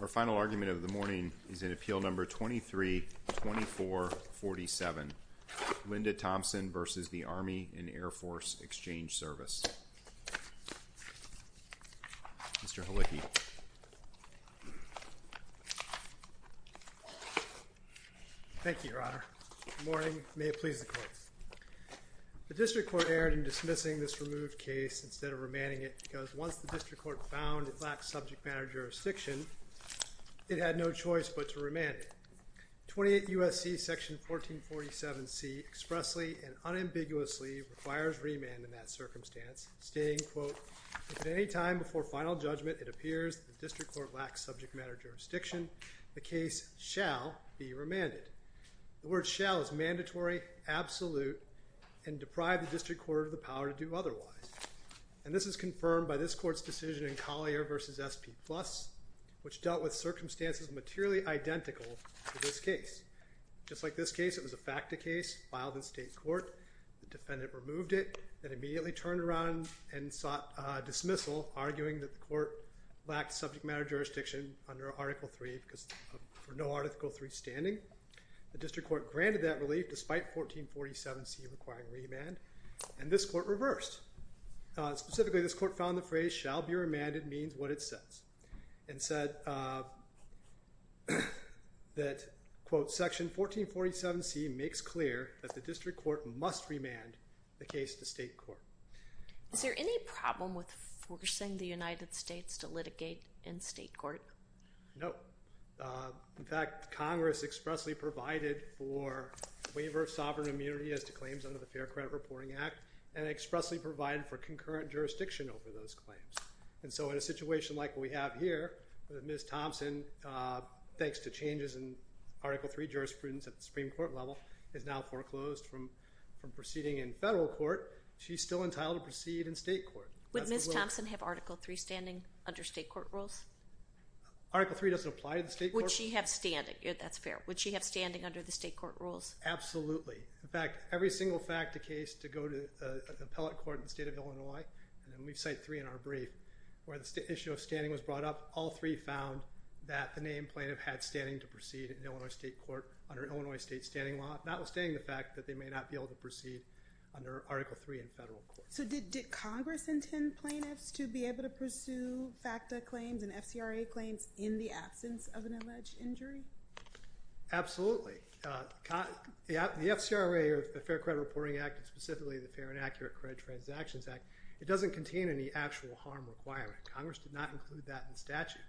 Our final argument of the morning is in Appeal No. 23-2447, Linda Thompson v. Army and Air Force Exchange Service. Mr. Halicki. Thank you, Your Honor. Good morning. May it please the Court. The District Court erred in dismissing this removed case instead of remanding it because once the District Court found it lacked subject matter jurisdiction, it had no choice but to remand it. 28 U.S.C. Section 1447C expressly and unambiguously requires remand in that circumstance, stating, quote, If at any time before final judgment it appears that the District Court lacks subject matter jurisdiction, the case shall be remanded. The word shall is mandatory, absolute, and deprive the District Court of the power to do otherwise. And this is confirmed by this Court's decision in Collier v. S.P. Plus, which dealt with circumstances materially identical to this case. Just like this case, it was a facta case filed in state court. The defendant removed it and immediately turned around and sought dismissal, arguing that the Court lacked subject matter jurisdiction under Article III for no Article III standing. The District Court granted that relief despite 1447C requiring remand, and this Court reversed. Specifically, this Court found the phrase shall be remanded means what it says, and said that, quote, Section 1447C makes clear that the District Court must remand the case to state court. Is there any problem with forcing the United States to litigate in state court? No. In fact, Congress expressly provided for waiver of sovereign immunity as to claims under the Fair Credit Reporting Act, and expressly provided for concurrent jurisdiction over those claims. And so in a situation like we have here, with Ms. Thompson, thanks to changes in Article III jurisprudence at the Supreme Court level, is now foreclosed from proceeding in federal court, she's still entitled to proceed in state court. Would Ms. Thompson have Article III standing under state court rules? Article III doesn't apply to the state court. Would she have standing? That's fair. Would she have standing under the state court rules? Absolutely. In fact, every single FACTA case to go to an appellate court in the state of Illinois, and we cite three in our brief, where the issue of standing was brought up, all three found that the named plaintiff had standing to proceed in Illinois state court under Illinois state standing law, notwithstanding the fact that they may not be able to proceed under Article III in federal court. So did Congress intend plaintiffs to be able to pursue FACTA claims and FCRA claims in the absence of an alleged injury? Absolutely. The FCRA, or the Fair Credit Reporting Act, and specifically the Fair and Accurate Credit Transactions Act, it doesn't contain any actual harm requirement. Congress did not include that in the statute.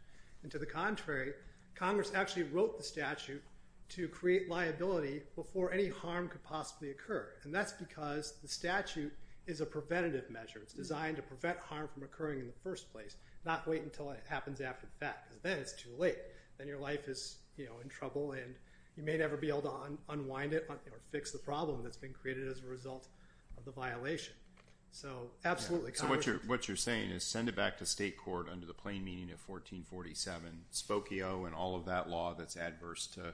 And to the contrary, Congress actually wrote the statute to create liability before any harm could possibly occur. And that's because the statute is a preventative measure. It's designed to prevent harm from occurring in the first place, not wait until it happens after the fact, because then it's too late. Then your life is, you know, in trouble and you may never be able to unwind it or fix the problem that's been created as a result of the violation. So absolutely. So what you're saying is send it back to state court under the plain meaning of 1447. Spokio and all of that law that's adverse to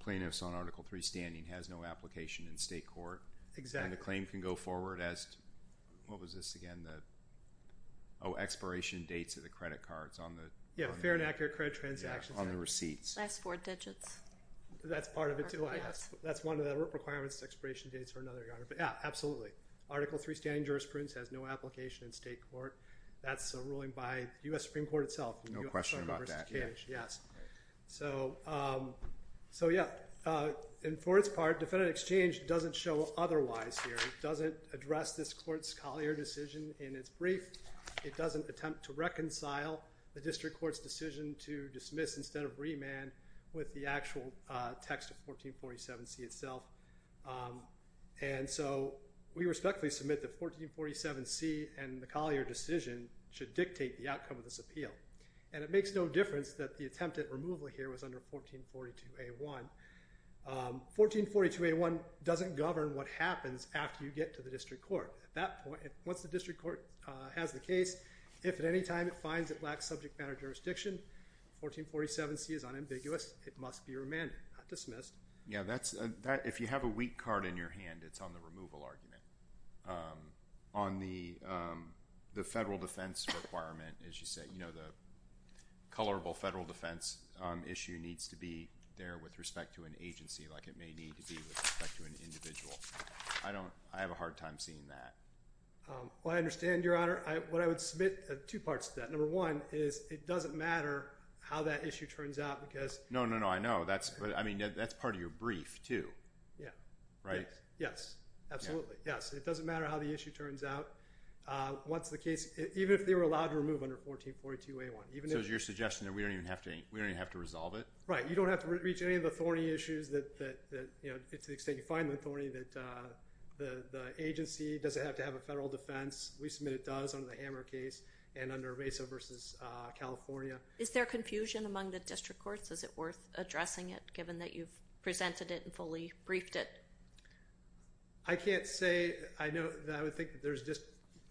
plaintiffs on Article III standing has no application in state court. Exactly. And the claim can go forward as, what was this again? Oh, expiration dates of the credit cards on the... Yeah, Fair and Accurate Credit Transactions Act. On the receipts. Last four digits. That's part of it too, I guess. That's one of the requirements, expiration dates for another guard. But yeah, absolutely. Article III standing jurisprudence has no application in state court. That's a ruling by U.S. Supreme Court itself. No question about that. So yeah. And for its part, defendant exchange doesn't show otherwise here. It doesn't address this court's Collier decision in its brief. It doesn't attempt to reconcile the district court's decision to dismiss instead of remand with the actual text of 1447C itself. And so we respectfully submit that 1447C and the Collier decision should dictate the outcome of this appeal. And it makes no difference that the attempted removal here was under 1442A1. 1442A1 doesn't govern what happens after you get to the district court. At that point, once the district court has the case, if at any time it finds it lacks subject matter jurisdiction, 1447C is unambiguous. It must be remanded, not dismissed. Yeah, that's... if you have a wheat card in your hand, it's on the removal argument. On the federal defense requirement, as you say, the colorable federal defense issue needs to be there with respect to an agency like it may need to be with respect to an individual. I don't... I have a hard time seeing that. Well, I understand, Your Honor. What I would submit... two parts to that. Number one is it doesn't matter how that issue turns out because... No, no, no. I know. That's... but I mean, that's part of your brief, too. Yeah. Right? Yes. Absolutely. Yes. It doesn't matter how the issue turns out. Once the case... even if they were allowed to remove under 1442A1, even if... So it's your suggestion that we don't even have to... we don't even have to resolve it? Right. You don't have to reach any of the thorny issues that, you know, to the extent you find them thorny, that the agency doesn't have to have a federal defense. We submit it does under the Hammer case and under Mesa v. California. Is there confusion among the district courts? Is it worth addressing it, given that you've presented it and fully briefed it? I can't say. I know that I would think that there's just...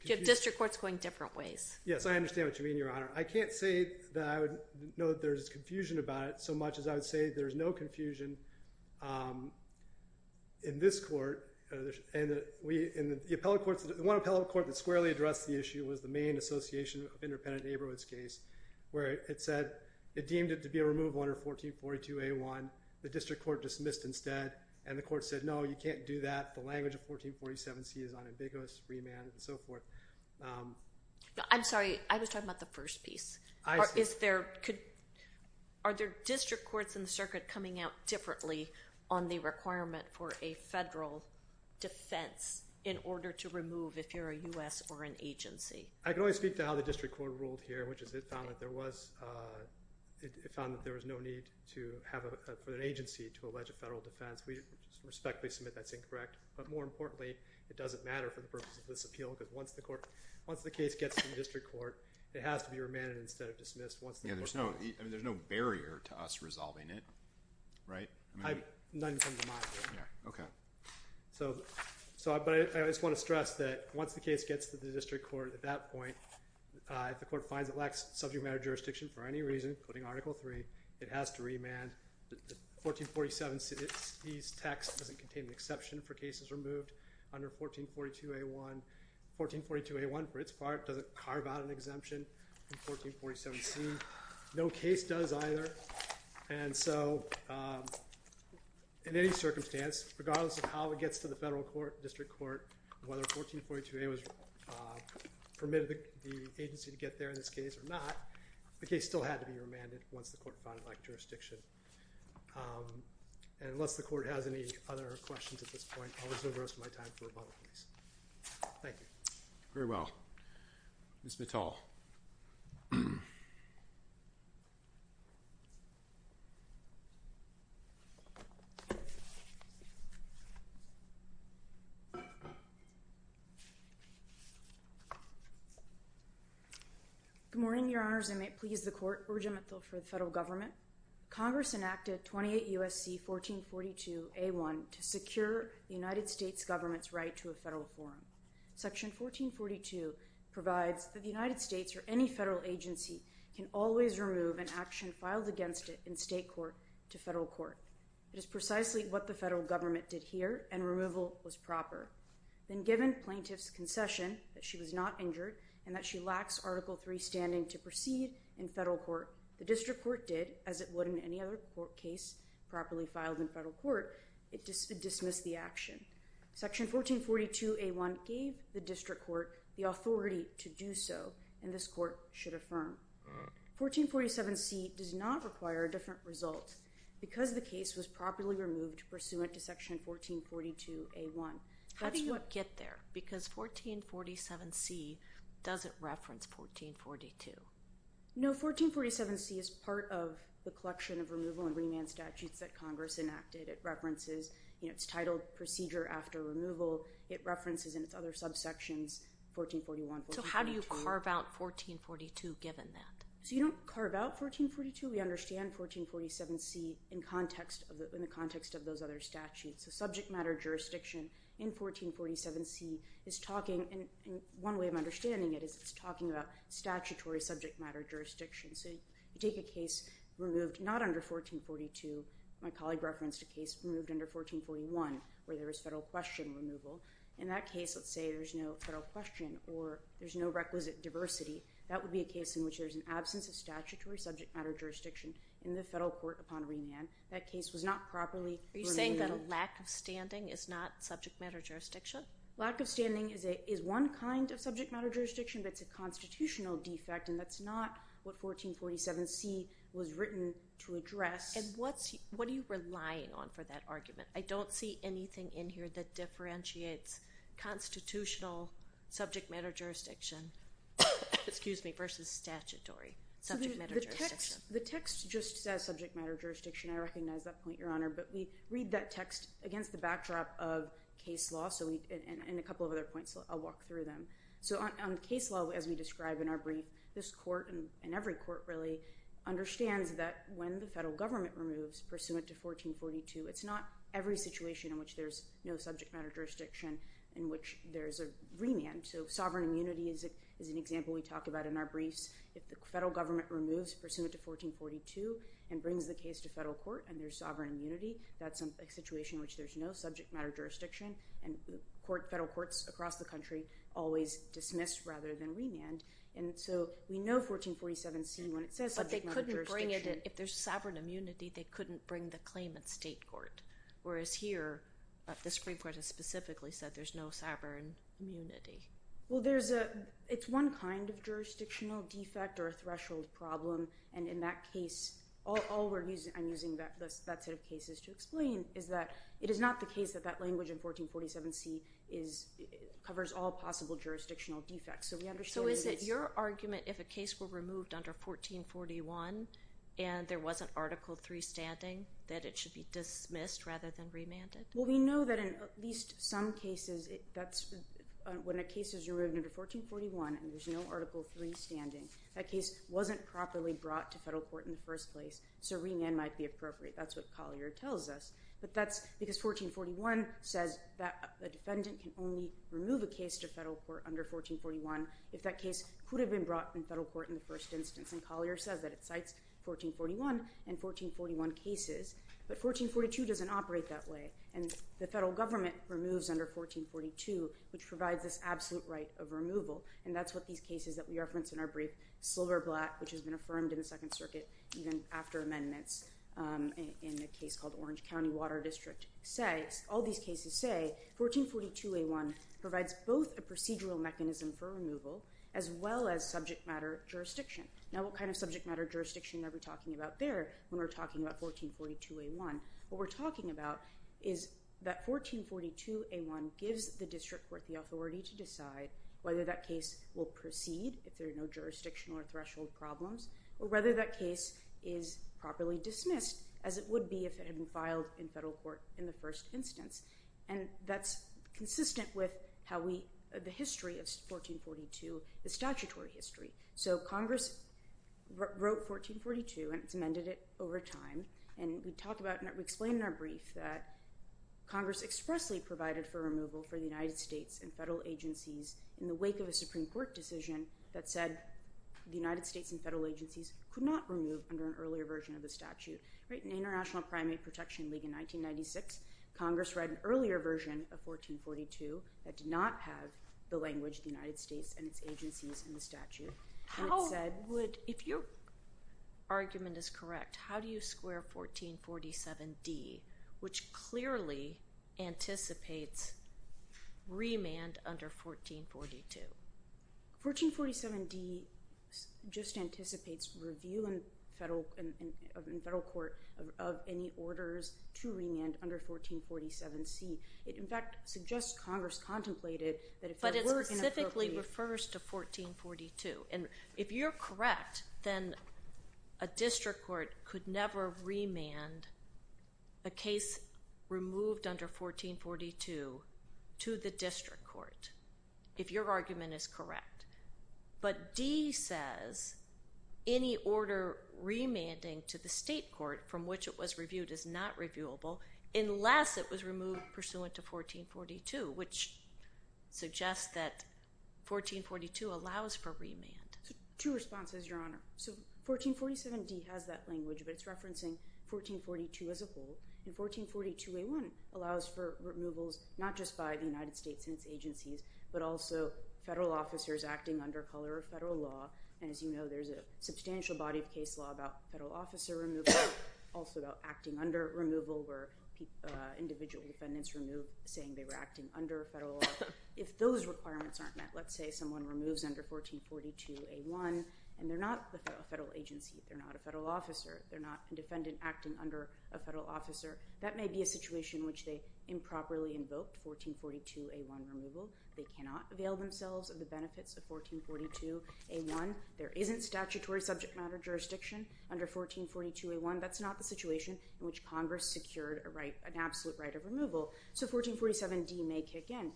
Do you have district courts going different ways? Yes. I understand what you mean, Your Honor. I can't say that I would know that there's confusion about it so much as I would say there's no confusion in this court. And we... in the appellate courts... the one appellate court that squarely addressed the issue was the Maine Association of Independent Neighborhoods case, where it said... it deemed it to be a removal under 1442A1. The district court dismissed instead. And the court said, no, you can't do that. The language of 1447C is unambiguous, remanded, and so forth. I'm sorry, I was talking about the first piece. Are there district courts in the circuit coming out differently on the requirement for a federal defense in order to remove if you're a U.S. or an agency? I can only speak to how the district court ruled here, which is it found that there was... it found that there was no need to have... for an agency to allege a federal defense. We respectfully submit that's incorrect. But more importantly, it doesn't matter for the purpose of this appeal because once the court... once the case gets to the district court, it has to be remanded instead of dismissed. Yeah, there's no... I mean, there's no barrier to us resolving it, right? I just want to stress that once the case gets to the district court at that point, if the court finds it lacks subject matter jurisdiction for any reason, including Article 3, it has to be remanded. The 1447C's text doesn't contain an exception for cases removed under 1442A1. 1442A1 for its part doesn't carve out an exemption in 1447C. No case does either, and so in any circumstance, regardless of how it gets to the federal court, district court, whether 1442A was permitted the agency to get there in this case or not, the case still had to be remanded once the court found it lacked jurisdiction. And unless the court has any other questions at this point, I'll reserve the rest of my time for rebuttal, please. Thank you. Very well. Ms. Mittal. Good morning, Your Honors. I may please the Court. Regent Mittal for the federal government. Congress enacted 28 U.S.C. 1442A1 to secure the United States government's right to a federal forum. Section 1442 provides that the United States or any federal agency can always remove an action filed against it in state court to federal court. It is precisely what the federal government did here, and removal was proper. Then given plaintiff's concession that she was not injured and that she lacks Article 3 standing to proceed in federal court, the district court did, as it would in any other court case properly filed in federal court, it dismissed the action. Section 1442A1 gave the district court the authority to do so, and this court should affirm. 1447C does not require a different result because the case was properly removed pursuant to Section 1442A1. How did you get there? Because 1447C doesn't reference 1442. No, 1447C is part of the collection of removal and remand statutes that Congress enacted. It references its title procedure after removal. It references in its other subsections 1441, 1442. So how do you carve out 1442 given that? You don't carve out 1442. We understand 1447C in the context of those other statutes. Subject matter jurisdiction in 1447C is talking, and one way of understanding it is it's talking about statutory subject matter jurisdiction. So you take a case removed not under 1442. My colleague referenced a case removed under 1441 where there was federal question removal. In that case, let's say there's no federal question or there's no requisite diversity. That would be a case in which there's an absence of statutory subject matter jurisdiction in the federal court upon remand. That case was not properly removed. Are you saying that a lack of standing is not subject matter jurisdiction? Lack of standing is one kind of subject matter jurisdiction, but it's a constitutional defect, and that's not what 1447C was written to address. And what are you relying on for that argument? I don't see anything in here that differentiates constitutional subject matter jurisdiction versus statutory subject matter jurisdiction. The text just says subject matter jurisdiction. I recognize that point, Your Honor, but we read that text against the backdrop of case law and a couple of other points, so I'll walk through them. So on case law, as we describe in our brief, this court and every court really understands that when the federal government removes pursuant to 1442, it's not every situation in which there's no subject matter jurisdiction in which there's a remand. So sovereign immunity is an example we talk about in our briefs. If the federal government removes pursuant to 1442 and brings the case to federal court and there's sovereign immunity, that's a situation in which there's no subject matter jurisdiction, and federal courts across the country always dismiss rather than remand. And so we know 1447C when it says subject matter jurisdiction. But if there's sovereign immunity, they couldn't bring the claim at state court, whereas here, the Supreme Court has specifically said there's no sovereign immunity. Well, it's one kind of jurisdictional defect or a threshold problem, and in that case, I'm using that set of cases to explain, is that it is not the case that that language in 1447C covers all possible jurisdictional defects. So is it your argument if a case were removed under 1441 and there was an Article III standing, that it should be dismissed rather than remanded? Well, we know that in at least some cases, when a case is removed under 1441 and there's no Article III standing, that case wasn't properly brought to federal court in the first place, so remand might be appropriate. That's what Collier tells us. But that's because 1441 says that a defendant can only remove a case to federal court under 1441 if that case could have been brought in federal court in the first instance. And Collier says that it cites 1441 and 1441 cases. But 1442 doesn't operate that way, and the federal government removes under 1442, which provides this absolute right of removal. And that's what these cases that we referenced in our brief, Silverblatt, which has been affirmed in the Second Circuit even after amendments in a case called Orange County Water District, say. All these cases say 1442A1 provides both a procedural mechanism for removal as well as subject matter jurisdiction. Now, what kind of subject matter jurisdiction are we talking about there when we're talking about 1442A1? What we're talking about is that 1442A1 gives the district court the authority to decide whether that case will proceed if there are no jurisdictional or threshold problems, or whether that case is properly dismissed as it would be if it had been filed in federal court in the first instance. And that's consistent with the history of 1442, the statutory history. So Congress wrote 1442, and it's amended it over time. And we explain in our brief that Congress expressly provided for removal for the United States and federal agencies in the wake of a Supreme Court decision that said the United States and federal agencies could not remove under an earlier version of the statute. In the International Primate Protection League in 1996, Congress read an earlier version of 1442 that did not have the language of the United States and its agencies in the statute. How would, if your argument is correct, how do you square 1447D, which clearly anticipates remand under 1442? 1447D just anticipates review in federal court of any orders to remand under 1447C. It, in fact, suggests Congress contemplated that if there were an appropriate… But D says any order remanding to the state court from which it was reviewed is not reviewable unless it was removed pursuant to 1442, which suggests that 1442 allows for remand. Two responses, Your Honor. So 1447D has that language, but it's referencing 1442 as a whole. And 1442A1 allows for removals not just by the United States and its agencies, but also federal officers acting under color of federal law. And as you know, there's a substantial body of case law about federal officer removal, also about acting under removal where individual defendants removed saying they were acting under federal law. If those requirements aren't met, let's say someone removes under 1442A1 and they're not a federal agency, they're not a federal officer, they're not a defendant acting under a federal officer, that may be a situation in which they improperly invoked 1442A1 removal. They cannot avail themselves of the benefits of 1442A1. There isn't statutory subject matter jurisdiction under 1442A1. That's not the situation in which Congress secured an absolute right of removal. So 1447D may kick in.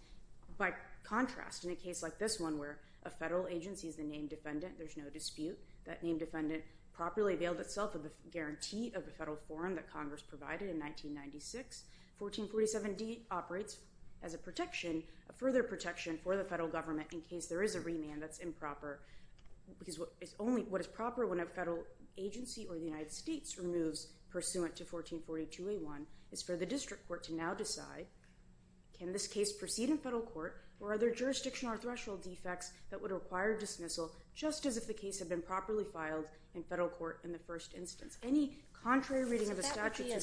By contrast, in a case like this one where a federal agency is the named defendant, there's no dispute that named defendant properly availed itself of the guarantee of the federal forum that Congress provided in 1996, 1447D operates as a protection, a further protection for the federal government in case there is a remand that's improper. Because what is proper when a federal agency or the United States removes pursuant to 1442A1 is for the district court to now decide, can this case proceed in federal court, or are there jurisdictional or threshold defects that would require dismissal just as if the case had been properly filed in federal court in the first instance. Any contrary reading of the statute should mean that...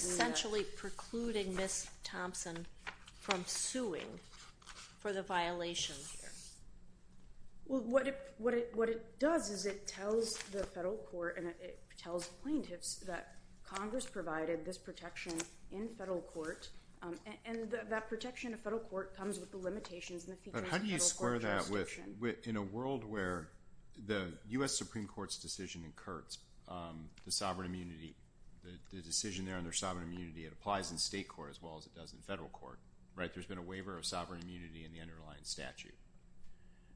What it does is it tells the federal court and it tells plaintiffs that Congress provided this protection in federal court, and that protection of federal court comes with the limitations and the features of federal court jurisdiction. How do you square that with, in a world where the U.S. Supreme Court's decision incurs the sovereign immunity, the decision there on their sovereign immunity, it applies in state court as well as it does in federal court, right? There's been a waiver of sovereign immunity in the underlying statute.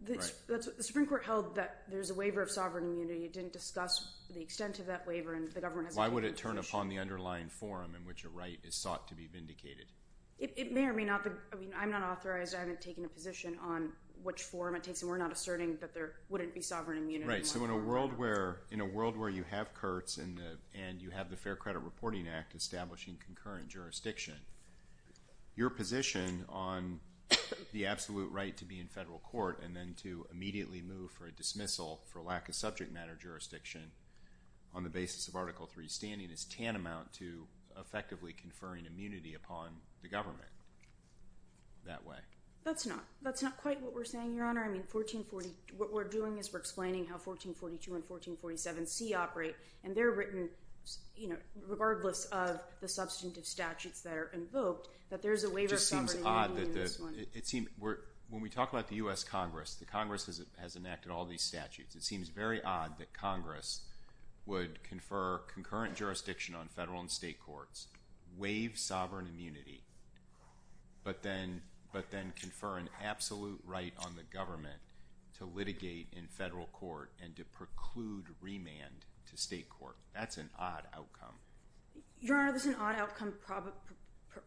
The Supreme Court held that there's a waiver of sovereign immunity. It didn't discuss the extent of that waiver, and the government has... Why would it turn upon the underlying forum in which a right is sought to be vindicated? It may or may not. I mean, I'm not authorized. I haven't taken a position on which forum it takes, and we're not asserting that there wouldn't be sovereign immunity. Right. So in a world where you have CURTS and you have the Fair Credit Reporting Act establishing concurrent jurisdiction, your position on the absolute right to be in federal court and then to immediately move for a dismissal for lack of subject matter jurisdiction on the basis of Article III standing is tantamount to effectively conferring immunity upon the government that way. That's not quite what we're saying, Your Honor. I mean, what we're doing is we're explaining how 1442 and 1447C operate, and they're written, regardless of the substantive statutes that are invoked, that there's a waiver of sovereign immunity in this one. It just seems odd. When we talk about the U.S. Congress, the Congress has enacted all these statutes. It seems very odd that Congress would confer concurrent jurisdiction on federal and state courts, waive sovereign immunity, but then confer an absolute right on the government to litigate in federal court and to preclude remand to state court. That's an odd outcome. Your Honor, this is an odd outcome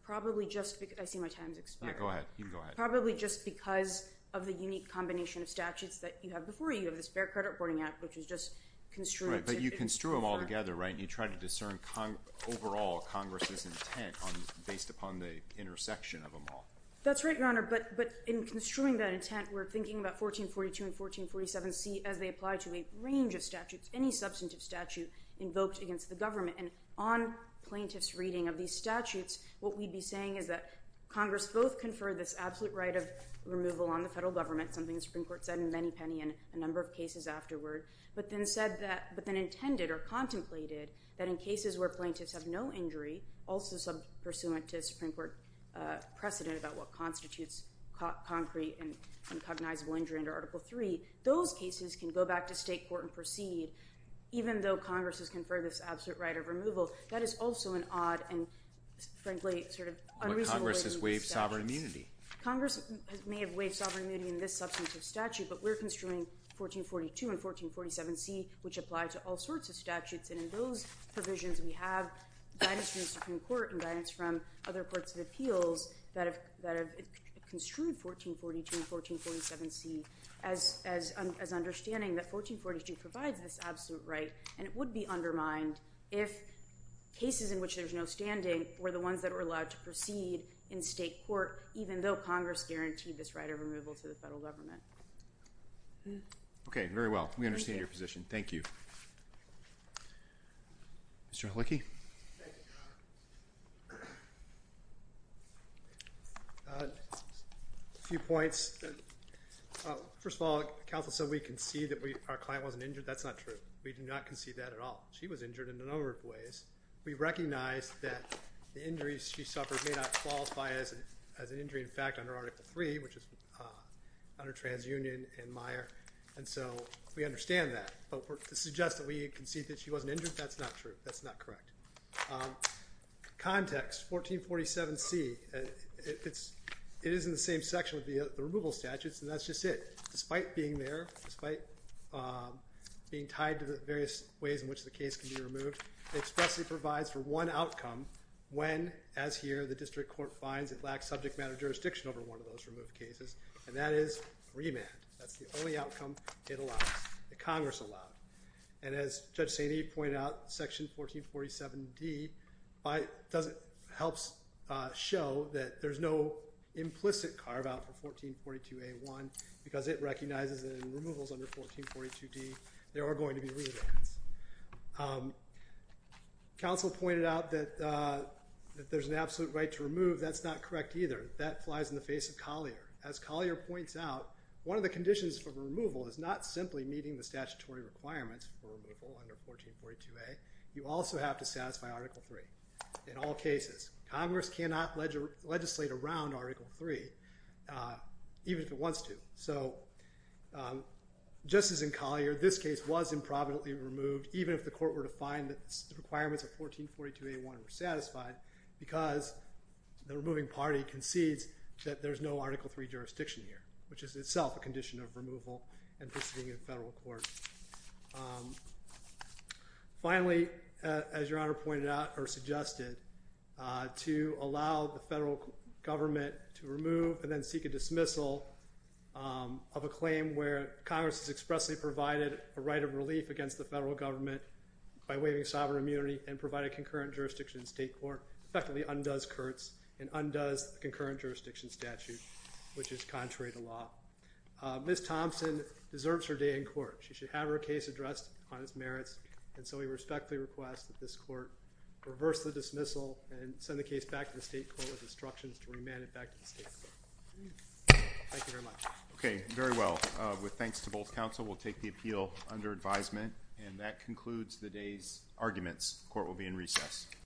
probably just because—I see my time's expiring. Yeah, go ahead. You can go ahead. Probably just because of the unique combination of statutes that you have before you. You have the Fair Credit Reporting Act, which is just construed to be more— Right, but you construe them all together, right? And you try to discern overall Congress's intent based upon the intersection of them all. That's right, Your Honor, but in construing that intent, we're thinking about 1442 and 1447C as they apply to a range of statutes, any substantive statute invoked against the government. And on plaintiffs' reading of these statutes, what we'd be saying is that Congress both conferred this absolute right of removal on the federal government, something the Supreme Court said in many penny in a number of cases afterward, but then said that—but then intended or contemplated that in cases where plaintiffs have no injury, also pursuant to a Supreme Court precedent about what constitutes concrete and cognizable injury under Article III, those cases can go back to state court and proceed even though Congress has conferred this absolute right of removal. That is also an odd and frankly sort of unreasonable way to view the statute. But Congress has waived sovereign immunity. Congress may have waived sovereign immunity in this substantive statute, but we're construing 1442 and 1447C, which apply to all sorts of statutes. And in those provisions, we have guidance from the Supreme Court and guidance from other courts of appeals that have construed 1442 and 1447C as understanding that 1442 provides this absolute right, and it would be undermined if cases in which there's no standing were the ones that were allowed to proceed in state court, even though Congress guaranteed this right of removal to the federal government. Okay, very well. We understand your position. Thank you. Mr. Helicki? A few points. First of all, counsel said we concede that our client wasn't injured. That's not true. We do not concede that at all. She was injured in a number of ways. We recognize that the injuries she suffered may not qualify as an injury, in fact, under Article III, which is under Transunion and Meyer, and so we understand that. But to suggest that we concede that she wasn't injured, that's not true. That's not correct. Context, 1447C, it is in the same section with the removal statutes, and that's just it. Despite being there, despite being tied to the various ways in which the case can be removed, it expressly provides for one outcome when, as here, the district court finds it lacks subject matter jurisdiction over one of those removed cases, and that is remand. That's the only outcome it allows, that Congress allowed. And as Judge St. Eve pointed out, Section 1447D helps show that there's no implicit carve-out for 1442A1 because it recognizes that in removals under 1442D there are going to be remands. Counsel pointed out that if there's an absolute right to remove, that's not correct either. That flies in the face of Collier. As Collier points out, one of the conditions for removal is not simply meeting the statutory requirements for removal under 1442A. You also have to satisfy Article III in all cases. Congress cannot legislate around Article III, even if it wants to. So just as in Collier, this case was improvidently removed, even if the court were to find that the requirements of 1442A1 were satisfied because the removing party concedes that there's no Article III jurisdiction here, which is itself a condition of removal implicitly in federal court. Finally, as Your Honor pointed out or suggested, to allow the federal government to remove and then seek a dismissal of a claim where Congress has expressly provided a right of relief against the federal government by waiving sovereign immunity and provide a concurrent jurisdiction in state court effectively undoes Kurtz and undoes the concurrent jurisdiction statute, which is contrary to law. Ms. Thompson deserves her day in court. She should have her case addressed on its merits, and so we respectfully request that this court reverse the dismissal and send the case back to the state court with instructions to remand it back to the state court. Thank you very much. Okay, very well. With thanks to both counsel, we'll take the appeal under advisement, and that concludes the day's arguments. Court will be in recess.